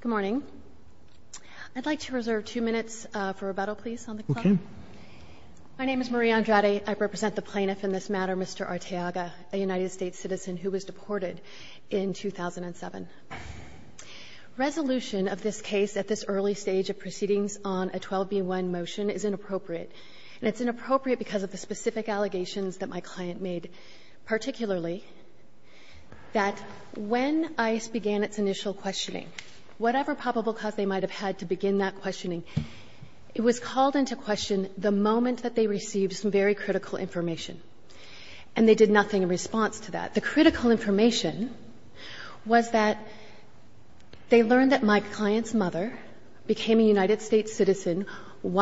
Good morning. I'd like to reserve two minutes for rebuttal, please, on the claim. Okay. My name is Marie Andrade. I represent the plaintiff in this matter, Mr. Arteaga, a United States citizen who was deported in 2007. Resolution of this case at this early stage of proceedings on a 12b1 motion is inappropriate, and it's inappropriate because of the specific allegations that my client made, particularly that when ICE began its initial questioning, whatever probable cause they might have had to begin that questioning, it was called into question the moment that they received some very critical information, and they did nothing in response to that. The critical information was that they learned that my client's mother became a United States citizen And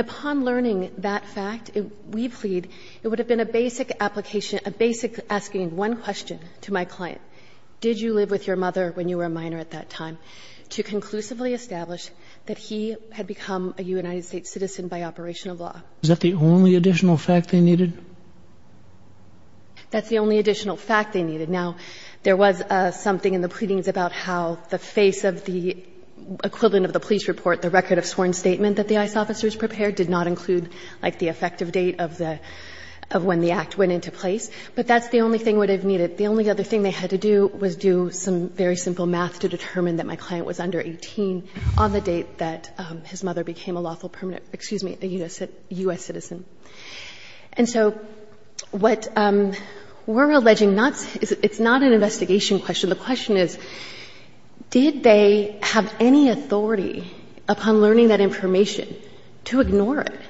upon learning that fact, we plead, it would have been a basic application, a basic asking one question to my client, did you live with your mother when you were a minor at that time, to conclusively establish that he had become a United States citizen by operation of law. Is that the only additional fact they needed? That's the only additional fact they needed. Now, there was something in the pleadings about how the face of the equivalent of the police report, the record of sworn statement that the ICE officers prepared, did not include, like, the effective date of the, of when the act went into place. But that's the only thing that would have needed. The only other thing they had to do was do some very simple math to determine that my client was under 18 on the date that his mother became a lawful permanent, excuse me, a U.S. citizen. And so what we're alleging not, it's not an investigation question. The question is, did they have any authority upon learning that information to ignore it,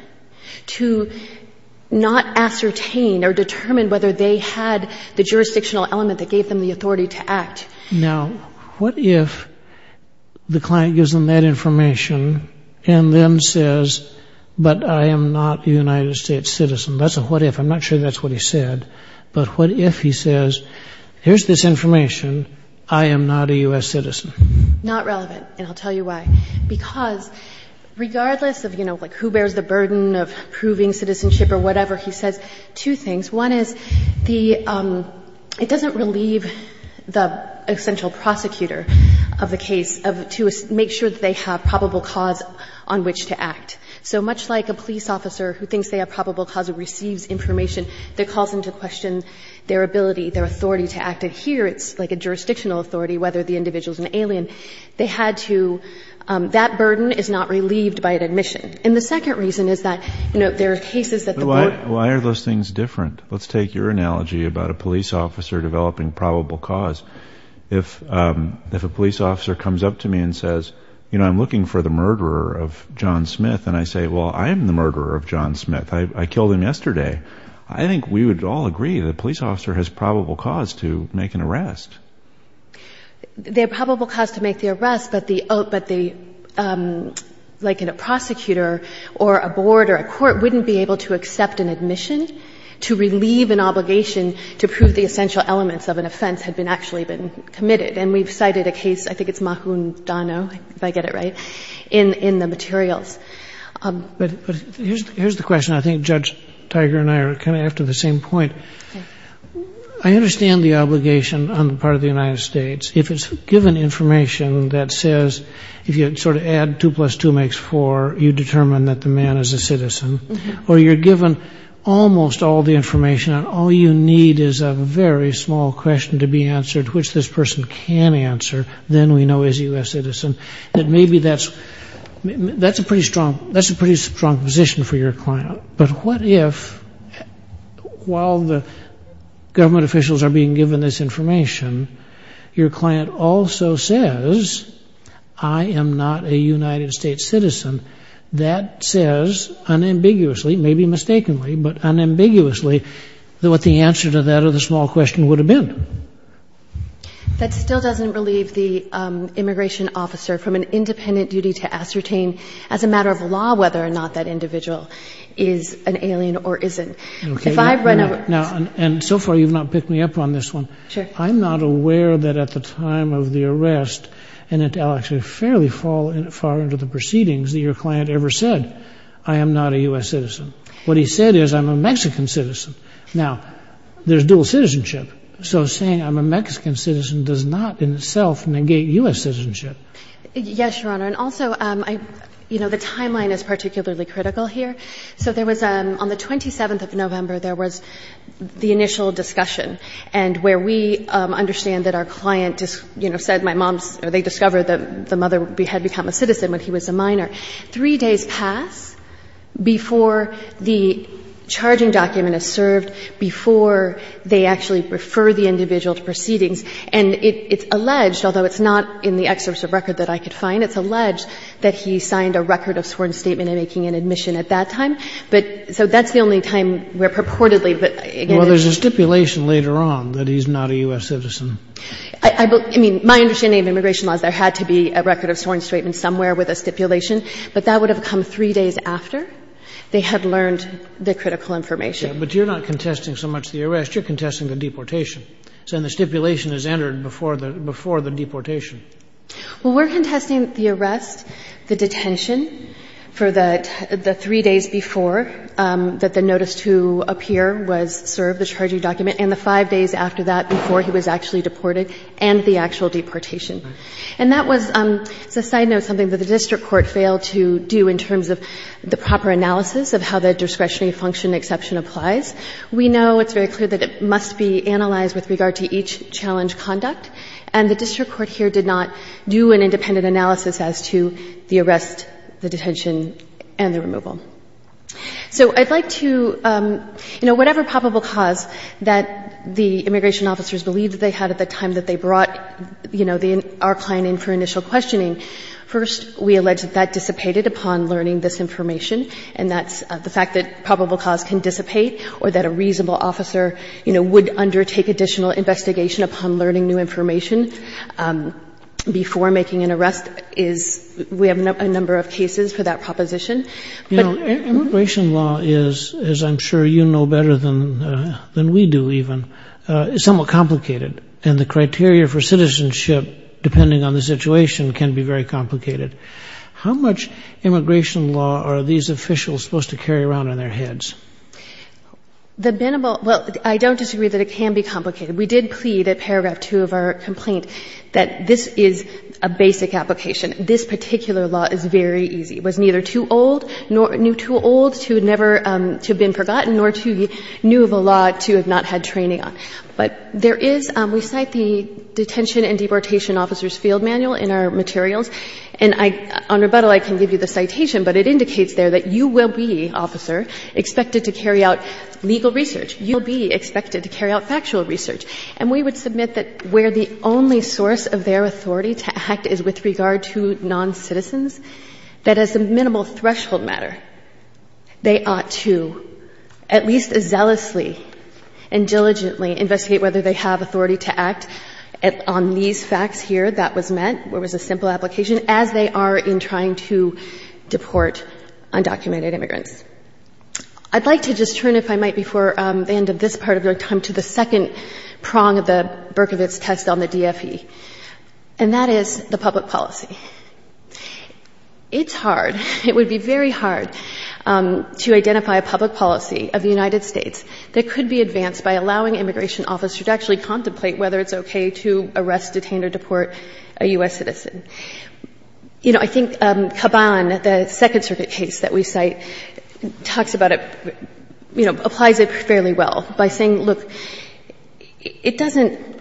to not ascertain or determine whether they had the jurisdictional element that gave them the authority to act? Now, what if the client gives them that information and then says, but I am not a United States citizen. That's a what if. I'm not sure that's what he said. But what if he says, here's this information. I am not a U.S. citizen. Not relevant. And I'll tell you why. Because regardless of, you know, like, who bears the burden of proving citizenship or whatever, he says two things. One is the, it doesn't relieve the essential prosecutor of the case of, to make sure that they have probable cause on which to act. So much like a police officer who thinks they have probable cause who receives information that calls into question their ability, their authority to act. And here it's like a jurisdictional authority, whether the individual is an alien. They had to, that burden is not relieved by an admission. And the second reason is that, you know, there are cases that the court. Why are those things different? Let's take your analogy about a police officer developing probable cause. If a police officer comes up to me and says, you know, I'm looking for the murderer of John Smith. And I say, well, I am the murderer of John Smith. I killed him yesterday. I think we would all agree that a police officer has probable cause to make an arrest. They have probable cause to make the arrest, but the, like in a prosecutor or a board or a court wouldn't be able to accept an admission to relieve an obligation to prove the essential elements of an offense had been actually been committed. And we've cited a case, I think it's Mahundano, if I get it right, in the materials. But here's the question. I think Judge Tiger and I are kind of after the same point. I understand the obligation on the part of the United States. If it's given information that says, if you sort of add two plus two makes four, you determine that the man is a citizen, or you're given almost all the information and all you need is a very small question to be answered, which this person can answer, then we know he's a U.S. citizen. And maybe that's a pretty strong position for your client. But what if, while the government officials are being given this information, your client also says, I am not a United States citizen. That says unambiguously, maybe mistakenly, but unambiguously what the answer to that other small question would have been. That still doesn't relieve the immigration officer from an independent duty to ascertain, as a matter of law, whether or not that individual is an alien or isn't. And so far you've not picked me up on this one. I'm not aware that at the time of the arrest, and it'll actually fairly fall far into the proceedings, that your client ever said, I am not a U.S. citizen. What he said is, I'm a Mexican citizen. Now, there's dual citizenship. So saying I'm a Mexican citizen does not in itself negate U.S. citizenship. Yes, Your Honor. And also, you know, the timeline is particularly critical here. So there was on the 27th of November, there was the initial discussion, and where we understand that our client, you know, said my mom's, or they discovered that the mother had become a citizen when he was a minor. Three days pass before the charging document is served, before they actually refer the individual to proceedings. And it's alleged, although it's not in the excerpt of record that I could find, it's alleged that he signed a record of sworn statement in making an admission at that time. But so that's the only time where purportedly, but again, there's not. Well, there's a stipulation later on that he's not a U.S. citizen. I mean, my understanding of immigration law is there had to be a record of sworn statement somewhere with a stipulation, but that would have come three days after they had learned the critical information. But you're not contesting so much the arrest. You're contesting the deportation. So then the stipulation is entered before the deportation. Well, we're contesting the arrest, the detention for the three days before that the notice to appear was served, the charging document, and the five days after that before he was actually deported, and the actual deportation. And that was, as a side note, something that the district court failed to do in terms of the proper analysis of how the discretionary function exception applies. We know it's very clear that it must be analyzed with regard to each challenge conduct, and the district court here did not do an independent analysis as to the arrest, the detention, and the removal. So I'd like to, you know, whatever probable cause that the immigration officers believed that they had at the time that they brought, you know, our client in for initial questioning, first we allege that that dissipated upon learning this information, and that's the fact that probable cause can dissipate, or that a reasonable officer, you know, would undertake additional investigation upon learning new information before making an arrest is, we have a number of cases for that proposition. You know, immigration law is, as I'm sure you know better than we do even, somewhat complicated. And the criteria for citizenship, depending on the situation, can be very complicated. How much immigration law are these officials supposed to carry around in their heads? The binnable, well, I don't disagree that it can be complicated. We did plead at paragraph two of our complaint that this is a basic application. This particular law is very easy. It was neither too old, nor too old to have been forgotten, nor too new of a law to have not had training on. But there is, we cite the detention and deportation officers' field manual in our rebuttal. I can give you the citation, but it indicates there that you will be, officer, expected to carry out legal research. You'll be expected to carry out factual research. And we would submit that where the only source of their authority to act is with regard to noncitizens, that as a minimal threshold matter, they ought to at least zealously and diligently investigate whether they have authority to act on these facts here that was met, where it was a simple application, as they are in trying to deport undocumented immigrants. I'd like to just turn, if I might, before the end of this part of your time, to the second prong of the Berkovitz test on the DFE. And that is the public policy. It's hard, it would be very hard to identify a public policy of the United States that could be advanced by allowing immigration officers to actually contemplate whether it's okay to arrest, detain, or deport a U.S. citizen. You know, I think Caban, the Second Circuit case that we cite, talks about it, you know, applies it fairly well by saying, look, it doesn't,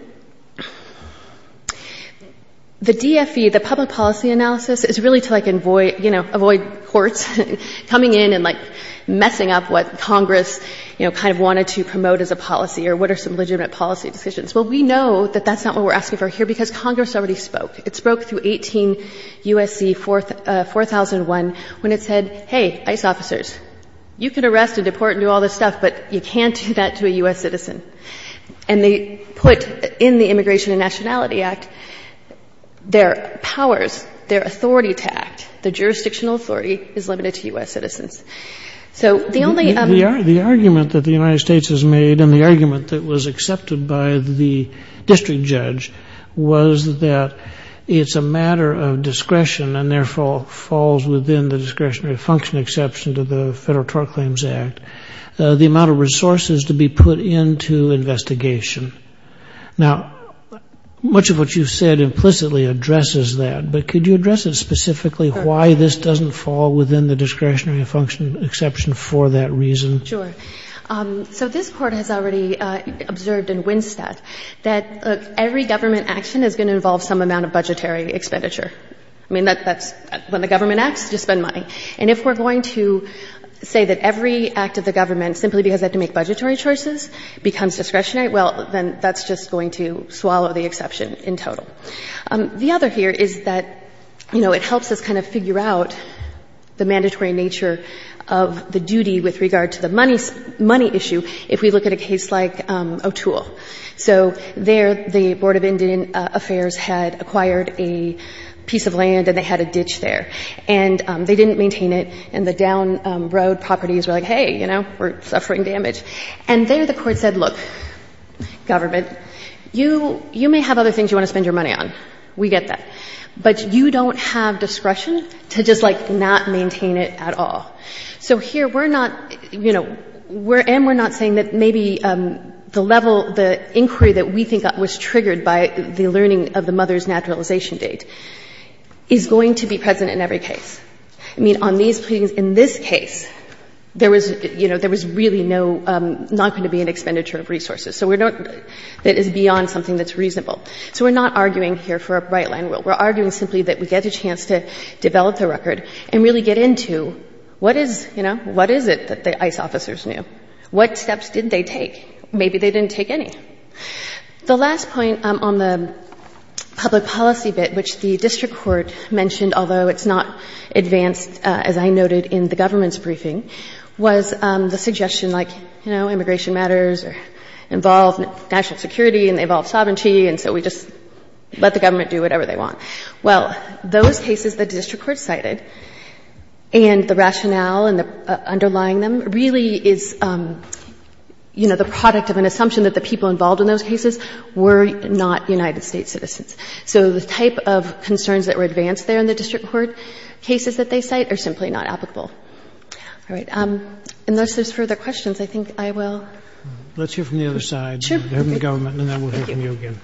the DFE, the public policy analysis is really to like avoid, you know, avoid courts coming in and like messing up what Congress, you know, kind of wanted to promote as a policy or what are some legitimate policy decisions. Well, we know that that's not what we're asking for here because Congress already spoke. It spoke through 18 U.S.C. 4001 when it said, hey, ICE officers, you can arrest and deport and do all this stuff, but you can't do that to a U.S. citizen. And they put in the Immigration and Nationality Act, their powers, their authority to act, the jurisdictional authority is limited to U.S. citizens. So the only other ‑‑ the District Judge was that it's a matter of discretion and, therefore, falls within the discretionary function exception to the Federal Tort Claims Act, the amount of resources to be put into investigation. Now, much of what you've said implicitly addresses that, but could you address it specifically, why this doesn't fall within the discretionary function exception for that reason? Sure. So this Court has already observed in Winstead that, look, every government action is going to involve some amount of budgetary expenditure. I mean, that's ‑‑ when the government acts, just spend money. And if we're going to say that every act of the government, simply because they have to make budgetary choices, becomes discretionary, well, then that's just going to swallow the exception in total. The other here is that, you know, it helps us kind of figure out the mandatory nature of the duty with regard to the money issue if we look at a case like O'Toole. So there the Board of Indian Affairs had acquired a piece of land and they had a ditch there, and they didn't maintain it, and the down road properties were like, hey, you know, we're suffering damage. And there the Court said, look, government, you may have other things you want to spend your money on. We get that. But you don't have discretion to just, like, not maintain it at all. So here we're not, you know, we're ‑‑ and we're not saying that maybe the level, the inquiry that we think was triggered by the learning of the mother's naturalization date is going to be present in every case. I mean, on these ‑‑ in this case, there was, you know, there was really no ‑‑ not going to be an expenditure of resources. So we're not ‑‑ that is beyond something that's reasonable. So we're not arguing here for a bright line rule. We're arguing simply that we get a chance to develop the record and really get into what is, you know, what is it that the ICE officers knew? What steps did they take? Maybe they didn't take any. The last point on the public policy bit, which the district court mentioned, although it's not advanced, as I noted, in the government's briefing, was the suggestion like, you know, immigration matters involve national security and they involve sovereignty, and so we just let the government do whatever they want. Well, those cases the district court cited and the rationale underlying them really is, you know, the product of an assumption that the people involved in those cases were not United States citizens. So the type of concerns that were advanced there in the district court cases that they cite are simply not applicable. All right. Unless there's further questions, I think I will ‑‑ I will hand it to you again.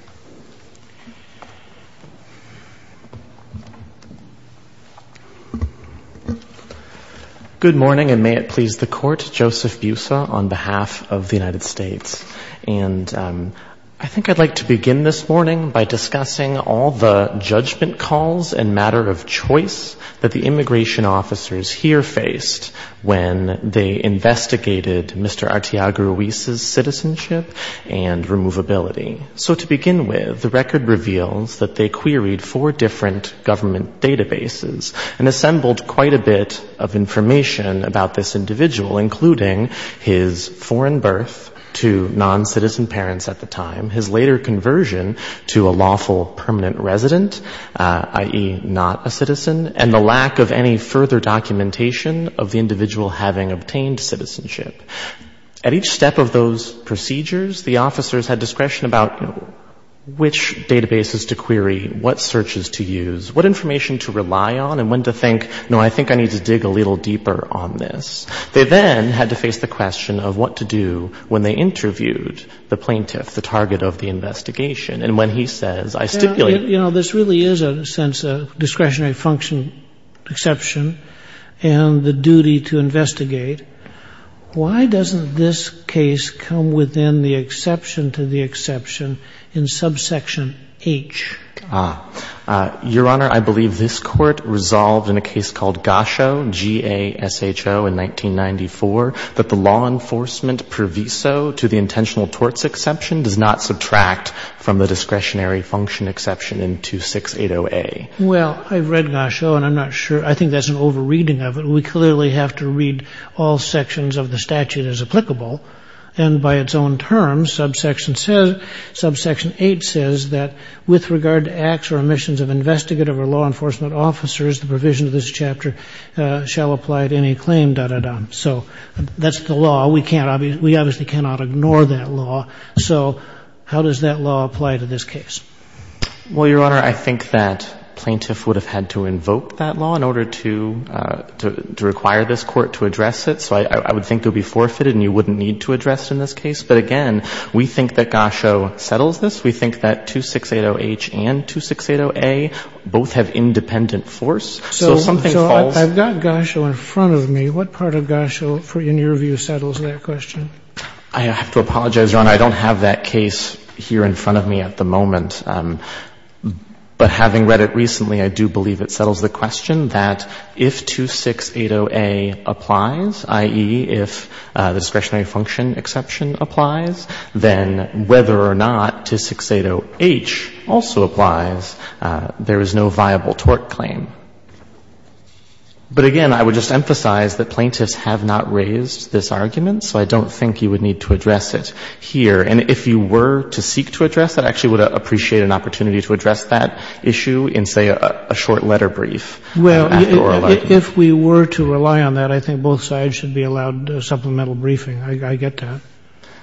Good morning, and may it please the court. Joseph Busa on behalf of the United States. And I think I'd like to begin this morning by discussing all the judgment calls and matter of choice that the immigration officers here faced when they investigated Mr. Artiago Ruiz's citizenship and removability. So to begin with, the record reveals that they queried four different government databases and assembled quite a bit of information about this individual, including his foreign birth to noncitizen parents at the time, his later conversion to a lawful permanent resident, i.e., not a citizen, and the lack of any further documentation of the individual having obtained citizenship. At each step of those procedures, the officers had discretion about which databases to query, what searches to use, what information to rely on, and when to think, no, I think I need to dig a little deeper on this. They then had to face the question of what to do when they interviewed the plaintiff, the target of the investigation. And when he says, I stipulate ‑‑ discretionary function exception and the duty to investigate, why doesn't this case come within the exception to the exception in subsection H? Ah. Your Honor, I believe this Court resolved in a case called Gasho, G-A-S-H-O, in 1994 that the law enforcement per viso to the intentional torts exception does not subtract from the discretionary function exception in 2680A. Well, I've read Gasho, and I'm not sure. I think that's an overreading of it. We clearly have to read all sections of the statute as applicable. And by its own terms, subsection says, subsection H says that with regard to acts or omissions of investigative or law enforcement officers, the provision of this chapter shall apply to any claim, da, da, da. So that's the law. We can't, we obviously cannot ignore that law. So how does that law apply to this case? Well, Your Honor, I think that plaintiff would have had to invoke that law in order to require this Court to address it. So I would think it would be forfeited and you wouldn't need to address it in this case. But again, we think that Gasho settles this. We think that 2680H and 2680A both have independent force. So something falls. So I've got Gasho in front of me. What part of Gasho, in your view, settles that question? I have to apologize, Your Honor. I don't have that case here in front of me at the moment. But having read it recently, I do believe it settles the question that if 2680A applies, i.e., if discretionary function exception applies, then whether or not 2680H also applies, there is no viable tort claim. But again, I would just emphasize that plaintiffs have not raised this argument, so I don't think you would need to address it here. And if you were to seek to address it, I actually would appreciate an opportunity to address that issue in, say, a short letter brief. Well, if we were to rely on that, I think both sides should be allowed supplemental briefing. I get that.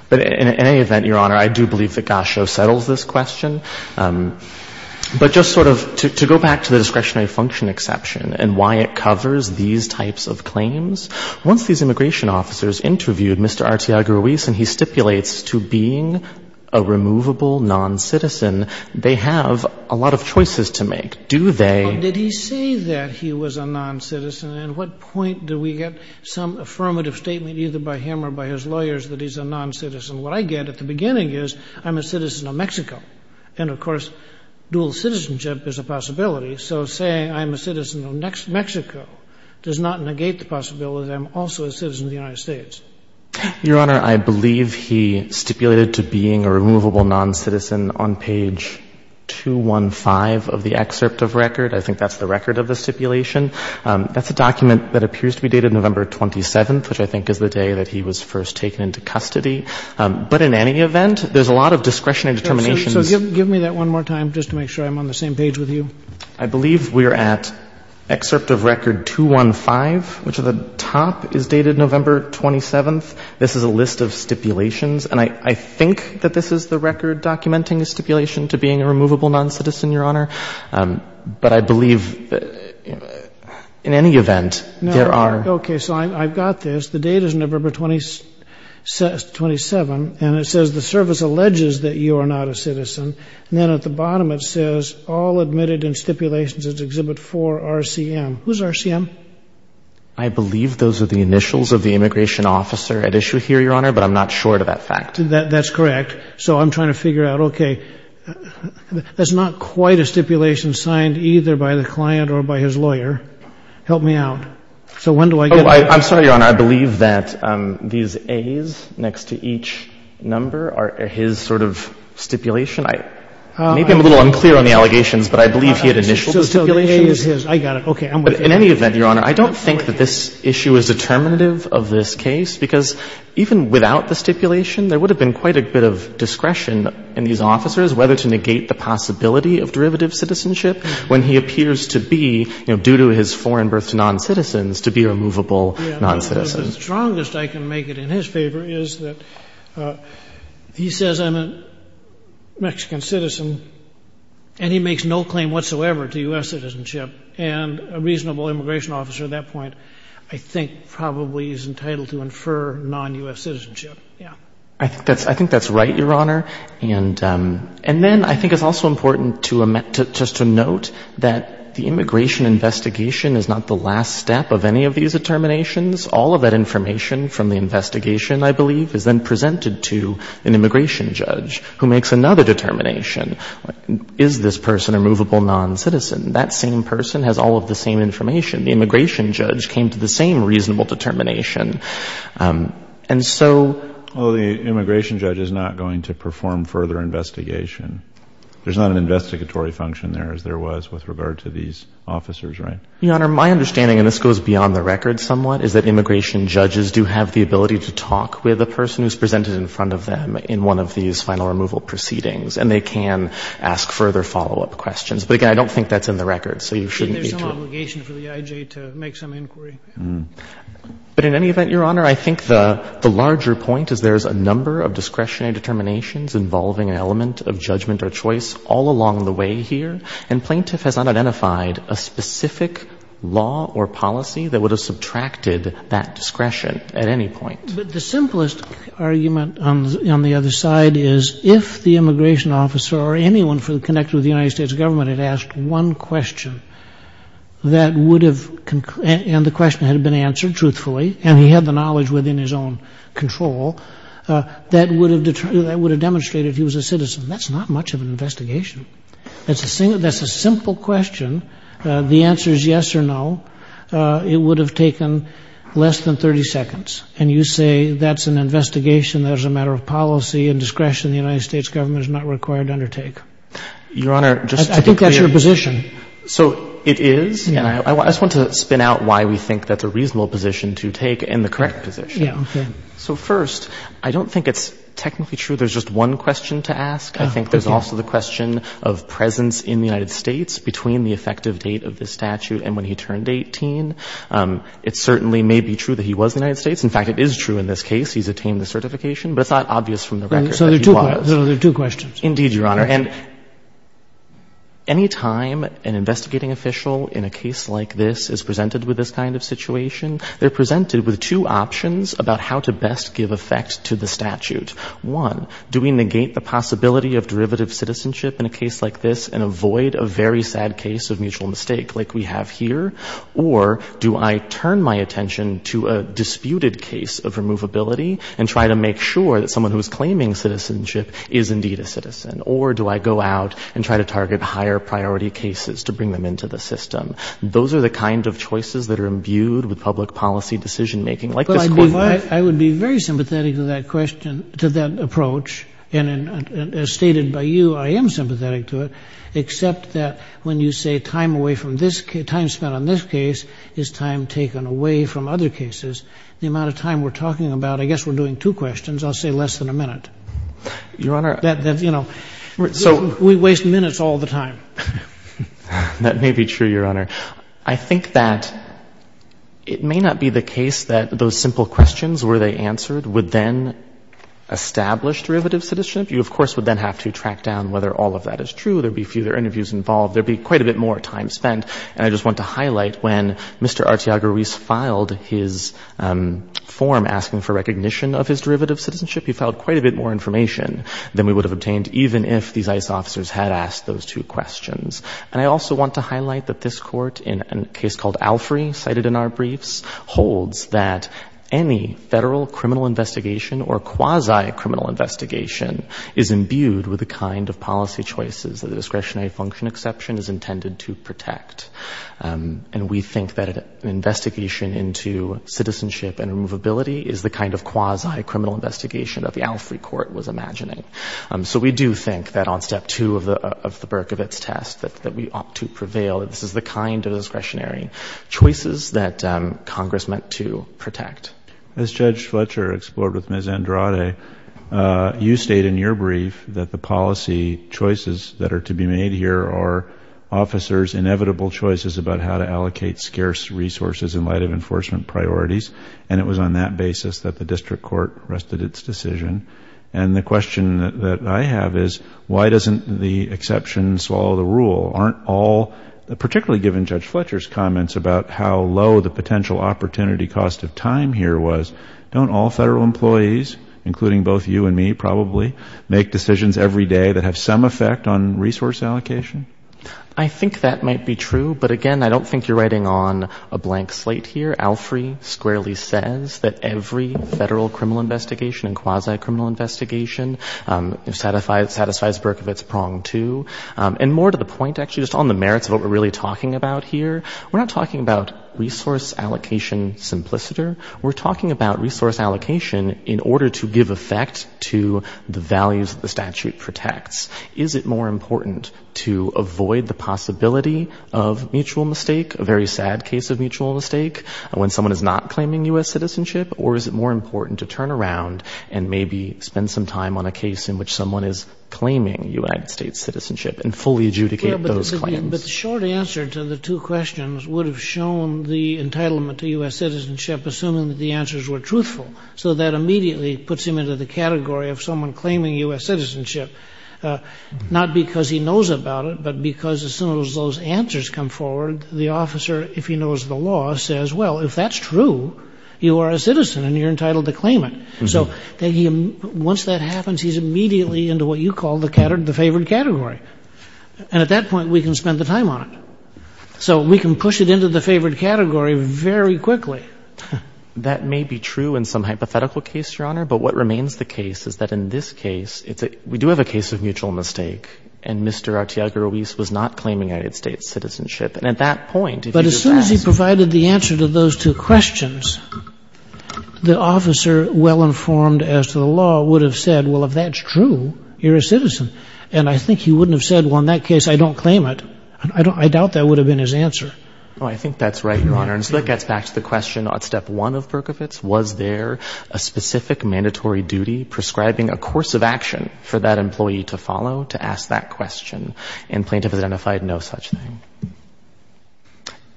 But in any event, Your Honor, I do believe that Gasho settles this question. But just sort of to go back to the discretionary function exception and why it covers these types of claims, once these immigration officers interviewed Mr. Arteaga-Ruiz and he stipulates to being a removable noncitizen, they have a lot of choices to make. Do they? Well, did he say that he was a noncitizen? And at what point do we get some affirmative statement either by him or by his lawyers that he's a noncitizen? What I get at the beginning is I'm a citizen of Mexico. And, of course, dual citizenship is a possibility. So saying I'm a citizen of Mexico does not negate the possibility that I'm also a citizen of the United States. Your Honor, I believe he stipulated to being a removable noncitizen on page 215 of the excerpt of record. I think that's the record of the stipulation. That's a document that appears to be dated November 27th, which I think is the day that he was first taken into custody. But in any event, there's a lot of discretionary determinations. So give me that one more time just to make sure I'm on the same page with you. I believe we're at excerpt of record 215, which at the top is dated November 27th. This is a list of stipulations. And I think that this is the record documenting the stipulation to being a removable noncitizen, Your Honor. But I believe in any event, there are. Okay. So I've got this. The date is November 27. And it says the service alleges that you are not a citizen. And then at the bottom it says all admitted in stipulations is Exhibit 4, RCM. Who's RCM? I believe those are the initials of the immigration officer at issue here, Your Honor, but I'm not sure of that fact. That's correct. So I'm trying to figure out, okay, that's not quite a stipulation signed either by the client or by his lawyer. Help me out. So when do I get it? I'm sorry, Your Honor. I believe that these A's next to each number are his sort of stipulation. Maybe I'm a little unclear on the allegations, but I believe he had initial stipulation. So the A is his. I got it. Okay. In any event, Your Honor, I don't think that this issue is determinative of this case because even without the stipulation, there would have been quite a bit of discretion in these officers whether to negate the possibility of derivative citizenship when he appears to be, you know, due to his foreign birth to noncitizens, to be a removable noncitizen. The strongest I can make it in his favor is that he says I'm a Mexican citizen and he makes no claim whatsoever to U.S. citizenship. And a reasonable immigration officer at that point I think probably is entitled to infer non-U.S. citizenship. Yeah. I think that's right, Your Honor. And then I think it's also important just to note that the immigration investigation is not the last step of any of these determinations. All of that information from the investigation, I believe, is then presented to an immigration judge who makes another determination. Is this person a removable noncitizen? That same person has all of the same information. The immigration judge came to the same reasonable determination. And so the immigration judge is not going to perform further investigation. There's not an investigatory function there as there was with regard to these officers, right? Your Honor, my understanding, and this goes beyond the record somewhat, is that immigration judges do have the ability to talk with the person who's presented in front of them in one of these final removal proceedings. And they can ask further follow-up questions. But, again, I don't think that's in the record. So you shouldn't be too. There's some obligation for the I.J. to make some inquiry. But in any event, Your Honor, I think the larger point is there's a number of discretionary determinations involving an element of judgment or choice all along the way here. And plaintiff has not identified a specific law or policy that would have subtracted that discretion at any point. But the simplest argument on the other side is if the immigration officer or anyone connected with the United States government had asked one question, and the question had been answered truthfully, and he had the knowledge within his own control, that would have demonstrated he was a citizen. That's not much of an investigation. That's a simple question. The answer is yes or no. It would have taken less than 30 seconds. And you say that's an investigation that is a matter of policy and discretion the United States government is not required to undertake. Your Honor, just to be clear. I think that's your position. So it is. And I just want to spin out why we think that's a reasonable position to take and the correct position. Okay. So, first, I don't think it's technically true there's just one question to ask. I think there's also the question of presence in the United States between the effective date of this statute and when he turned 18. It certainly may be true that he was in the United States. In fact, it is true in this case. He's attained the certification. But it's not obvious from the record that he was. So there are two questions. Indeed, Your Honor. And any time an investigating official in a case like this is presented with this kind of situation, they're presented with two options about how to best give effect to the statute. One, do we negate the possibility of derivative citizenship in a case like this and avoid a very sad case of mutual mistake like we have here? Or do I turn my attention to a disputed case of removability and try to make sure that someone who's claiming citizenship is indeed a citizen? Or do I go out and try to target higher priority cases to bring them into the system? Those are the kind of choices that are imbued with public policy decision-making like this court. I would be very sympathetic to that question, to that approach. And as stated by you, I am sympathetic to it, except that when you say time away from this case, time spent on this case is time taken away from other cases, the amount of time we're talking about, I guess we're doing two questions, I'll say less than a minute. Your Honor, so we waste minutes all the time. That may be true, Your Honor. I think that it may not be the case that those simple questions where they answered would then establish derivative citizenship. You, of course, would then have to track down whether all of that is true. There'd be fewer interviews involved. There'd be quite a bit more time spent. And I just want to highlight when Mr. Arteaga-Ruiz filed his form asking for recognition of his derivative citizenship, he filed quite a bit more information than we would have obtained even if these ICE officers had asked those two questions. And I also want to highlight that this court, in a case called Alfrey, cited in our briefs, that any federal criminal investigation or quasi-criminal investigation is imbued with the kind of policy choices that the discretionary function exception is intended to protect. And we think that an investigation into citizenship and removability is the kind of quasi-criminal investigation that the Alfrey court was imagining. So we do think that on step two of the Berkovits test that we ought to prevail. This is the kind of discretionary choices that Congress meant to protect. As Judge Fletcher explored with Ms. Andrade, you state in your brief that the policy choices that are to be made here are officers' inevitable choices about how to allocate scarce resources in light of enforcement priorities. And it was on that basis that the district court rested its decision. And the question that I have is, why doesn't the exception swallow the rule? Aren't all, particularly given Judge Fletcher's comments about how low the potential opportunity cost of time here was, don't all federal employees, including both you and me probably, make decisions every day that have some effect on resource allocation? I think that might be true. But again, I don't think you're writing on a blank slate here. Alfrey squarely says that every federal criminal investigation and quasi-criminal investigation satisfies Berkovits prong two. And more to the point, actually, just on the merits of what we're really talking about here, we're not talking about resource allocation simpliciter. We're talking about resource allocation in order to give effect to the values that the statute protects. Is it more important to avoid the possibility of mutual mistake, a very sad case of mutual mistake, when someone is not claiming U.S. citizenship, or is it more important to turn around and maybe spend some time on a case in which someone is claiming U.S. citizenship and fully adjudicate those claims? But the short answer to the two questions would have shown the entitlement to U.S. citizenship, assuming that the answers were truthful. So that immediately puts him into the category of someone claiming U.S. citizenship, not because he knows about it, but because as soon as those answers come forward, the officer, if he knows the law, says, well, if that's true, you are a citizen and you're entitled to claim it. So once that happens, he's immediately into what you call the favored category. And at that point, we can spend the time on it. So we can push it into the favored category very quickly. That may be true in some hypothetical case, Your Honor, but what remains the case is that in this case, we do have a case of mutual mistake, and Mr. Arteaga Ruiz was not claiming United States citizenship. And at that point, if you do that — But as soon as he provided the answer to those two questions, the officer, well-informed as to the law, would have said, well, if that's true, you're a citizen. And I think he wouldn't have said, well, in that case, I don't claim it. I doubt that would have been his answer. Oh, I think that's right, Your Honor. And so that gets back to the question on step one of Berkovitz. Was there a specific mandatory duty prescribing a course of action for that employee to follow to ask that question? And plaintiffs identified no such thing.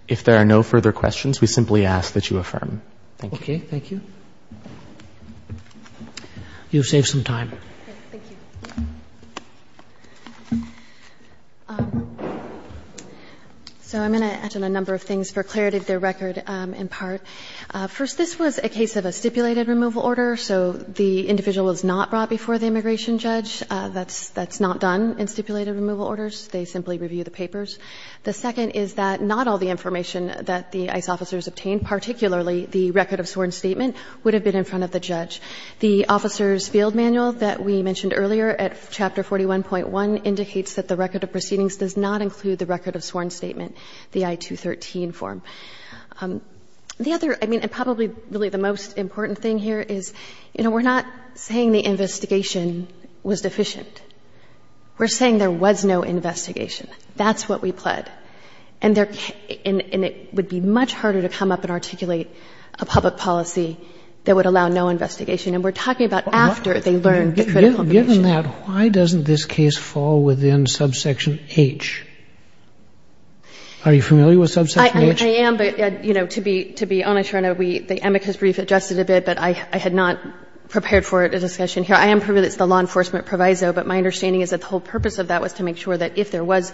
If there are no further questions, we simply ask that you affirm. Thank you. Okay. Thank you. You've saved some time. Thank you. So I'm going to add a number of things for clarity of the record in part. First, this was a case of a stipulated removal order, so the individual was not brought before the immigration judge. That's not done in stipulated removal orders. They simply review the papers. The second is that not all the information that the ICE officers obtained, particularly the record of sworn statement, would have been in front of the judge. The officer's field manual that we mentioned earlier at Chapter 41.1 indicates that the record of proceedings does not include the record of sworn statement, the I-213 form. The other, I mean, and probably really the most important thing here is, you know, we're not saying the investigation was deficient. We're saying there was no investigation. That's what we pled. And it would be much harder to come up and articulate a public policy that would allow no investigation. And we're talking about after they learned the critical information. Given that, why doesn't this case fall within subsection H? Are you familiar with subsection H? I am, but, you know, to be honest, Your Honor, the amicus brief adjusted a bit, but I had not prepared for a discussion here. I am privy to the law enforcement proviso, but my understanding is that the whole purpose of that was to make sure that if there was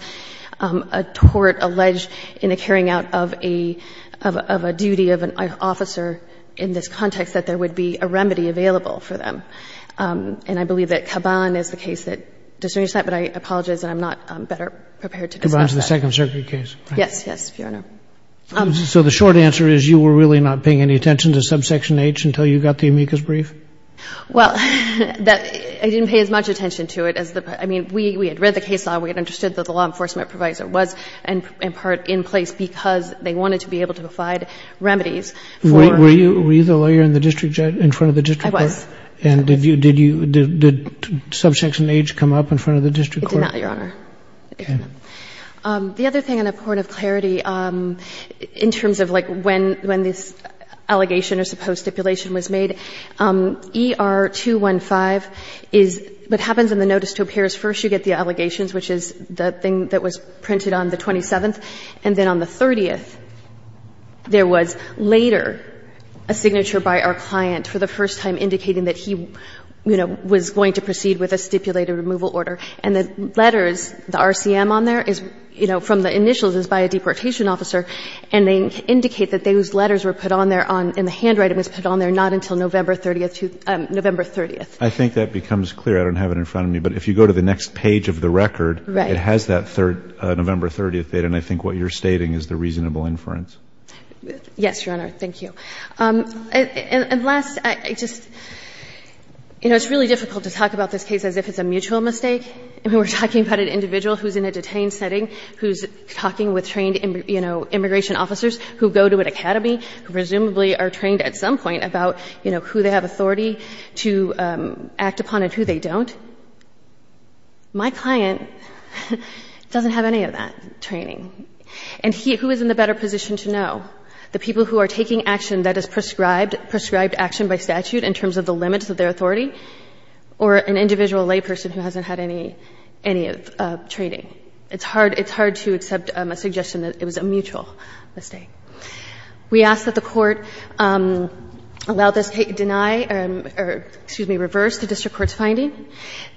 a tort alleged in the carrying out of a duty of an officer in this context, that there would be a remedy available for them. And I believe that Caban is the case that discerns that, but I apologize, and I'm not better prepared to discuss that. Caban's the Second Circuit case, right? Yes, yes, Your Honor. So the short answer is you were really not paying any attention to subsection H until you got the amicus brief? Well, I didn't pay as much attention to it. I mean, we had read the case law. We had understood that the law enforcement proviso was in part in place because they wanted to be able to provide remedies. Were you the lawyer in the district judge, in front of the district court? I was. And did subsection H come up in front of the district court? It did not, Your Honor. Okay. The other thing, in a point of clarity, in terms of like when this allegation or supposed stipulation was made, ER-215 is what happens in the notice to appears first, you get the allegations, which is the thing that was printed on the 27th. And then on the 30th, there was later a signature by our client for the first time indicating that he, you know, was going to proceed with a stipulated removal order. And the letters, the RCM on there is, you know, from the initials is by a deportation officer, and they indicate that those letters were put on there and the handwriting was put on there not until November 30th. I think that becomes clear. I don't have it in front of me. But if you go to the next page of the record, it has that November 30th date, and I think what you're stating is the reasonable inference. Yes, Your Honor. Thank you. And last, I just, you know, it's really difficult to talk about this case as if it's a mutual mistake. I mean, we're talking about an individual who's in a detained setting who's talking with trained, you know, immigration officers who go to an academy, who presumably are trained at some point about, you know, who they have authority to act upon and who they don't. My client doesn't have any of that training. And who is in the better position to know? The people who are taking action that is prescribed, prescribed action by statute in terms of the limits of their authority, or an individual layperson who hasn't had any, any training? It's hard, it's hard to accept a suggestion that it was a mutual mistake. We ask that the Court allow this case to deny or, excuse me, reverse the district court's finding,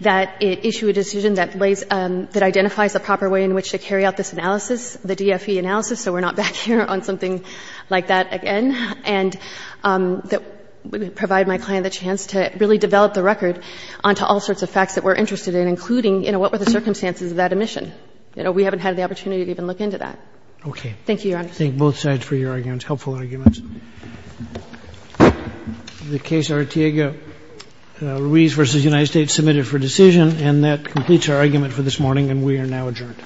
that it issue a decision that lays, that identifies the proper way in which to carry out this analysis, the DFE analysis, so we're not back here on something like that again, and that would provide my client the chance to really develop the record onto all sorts of facts that we're interested in, including, you know, what were the circumstances of that admission? You know, we haven't had the opportunity to even look into that. Thank you, Your Honor. Roberts. Thank both sides for your arguments, helpful arguments. The case, Artiego-Ruiz v. United States, submitted for decision. And that completes our argument for this morning, and we are now adjourned.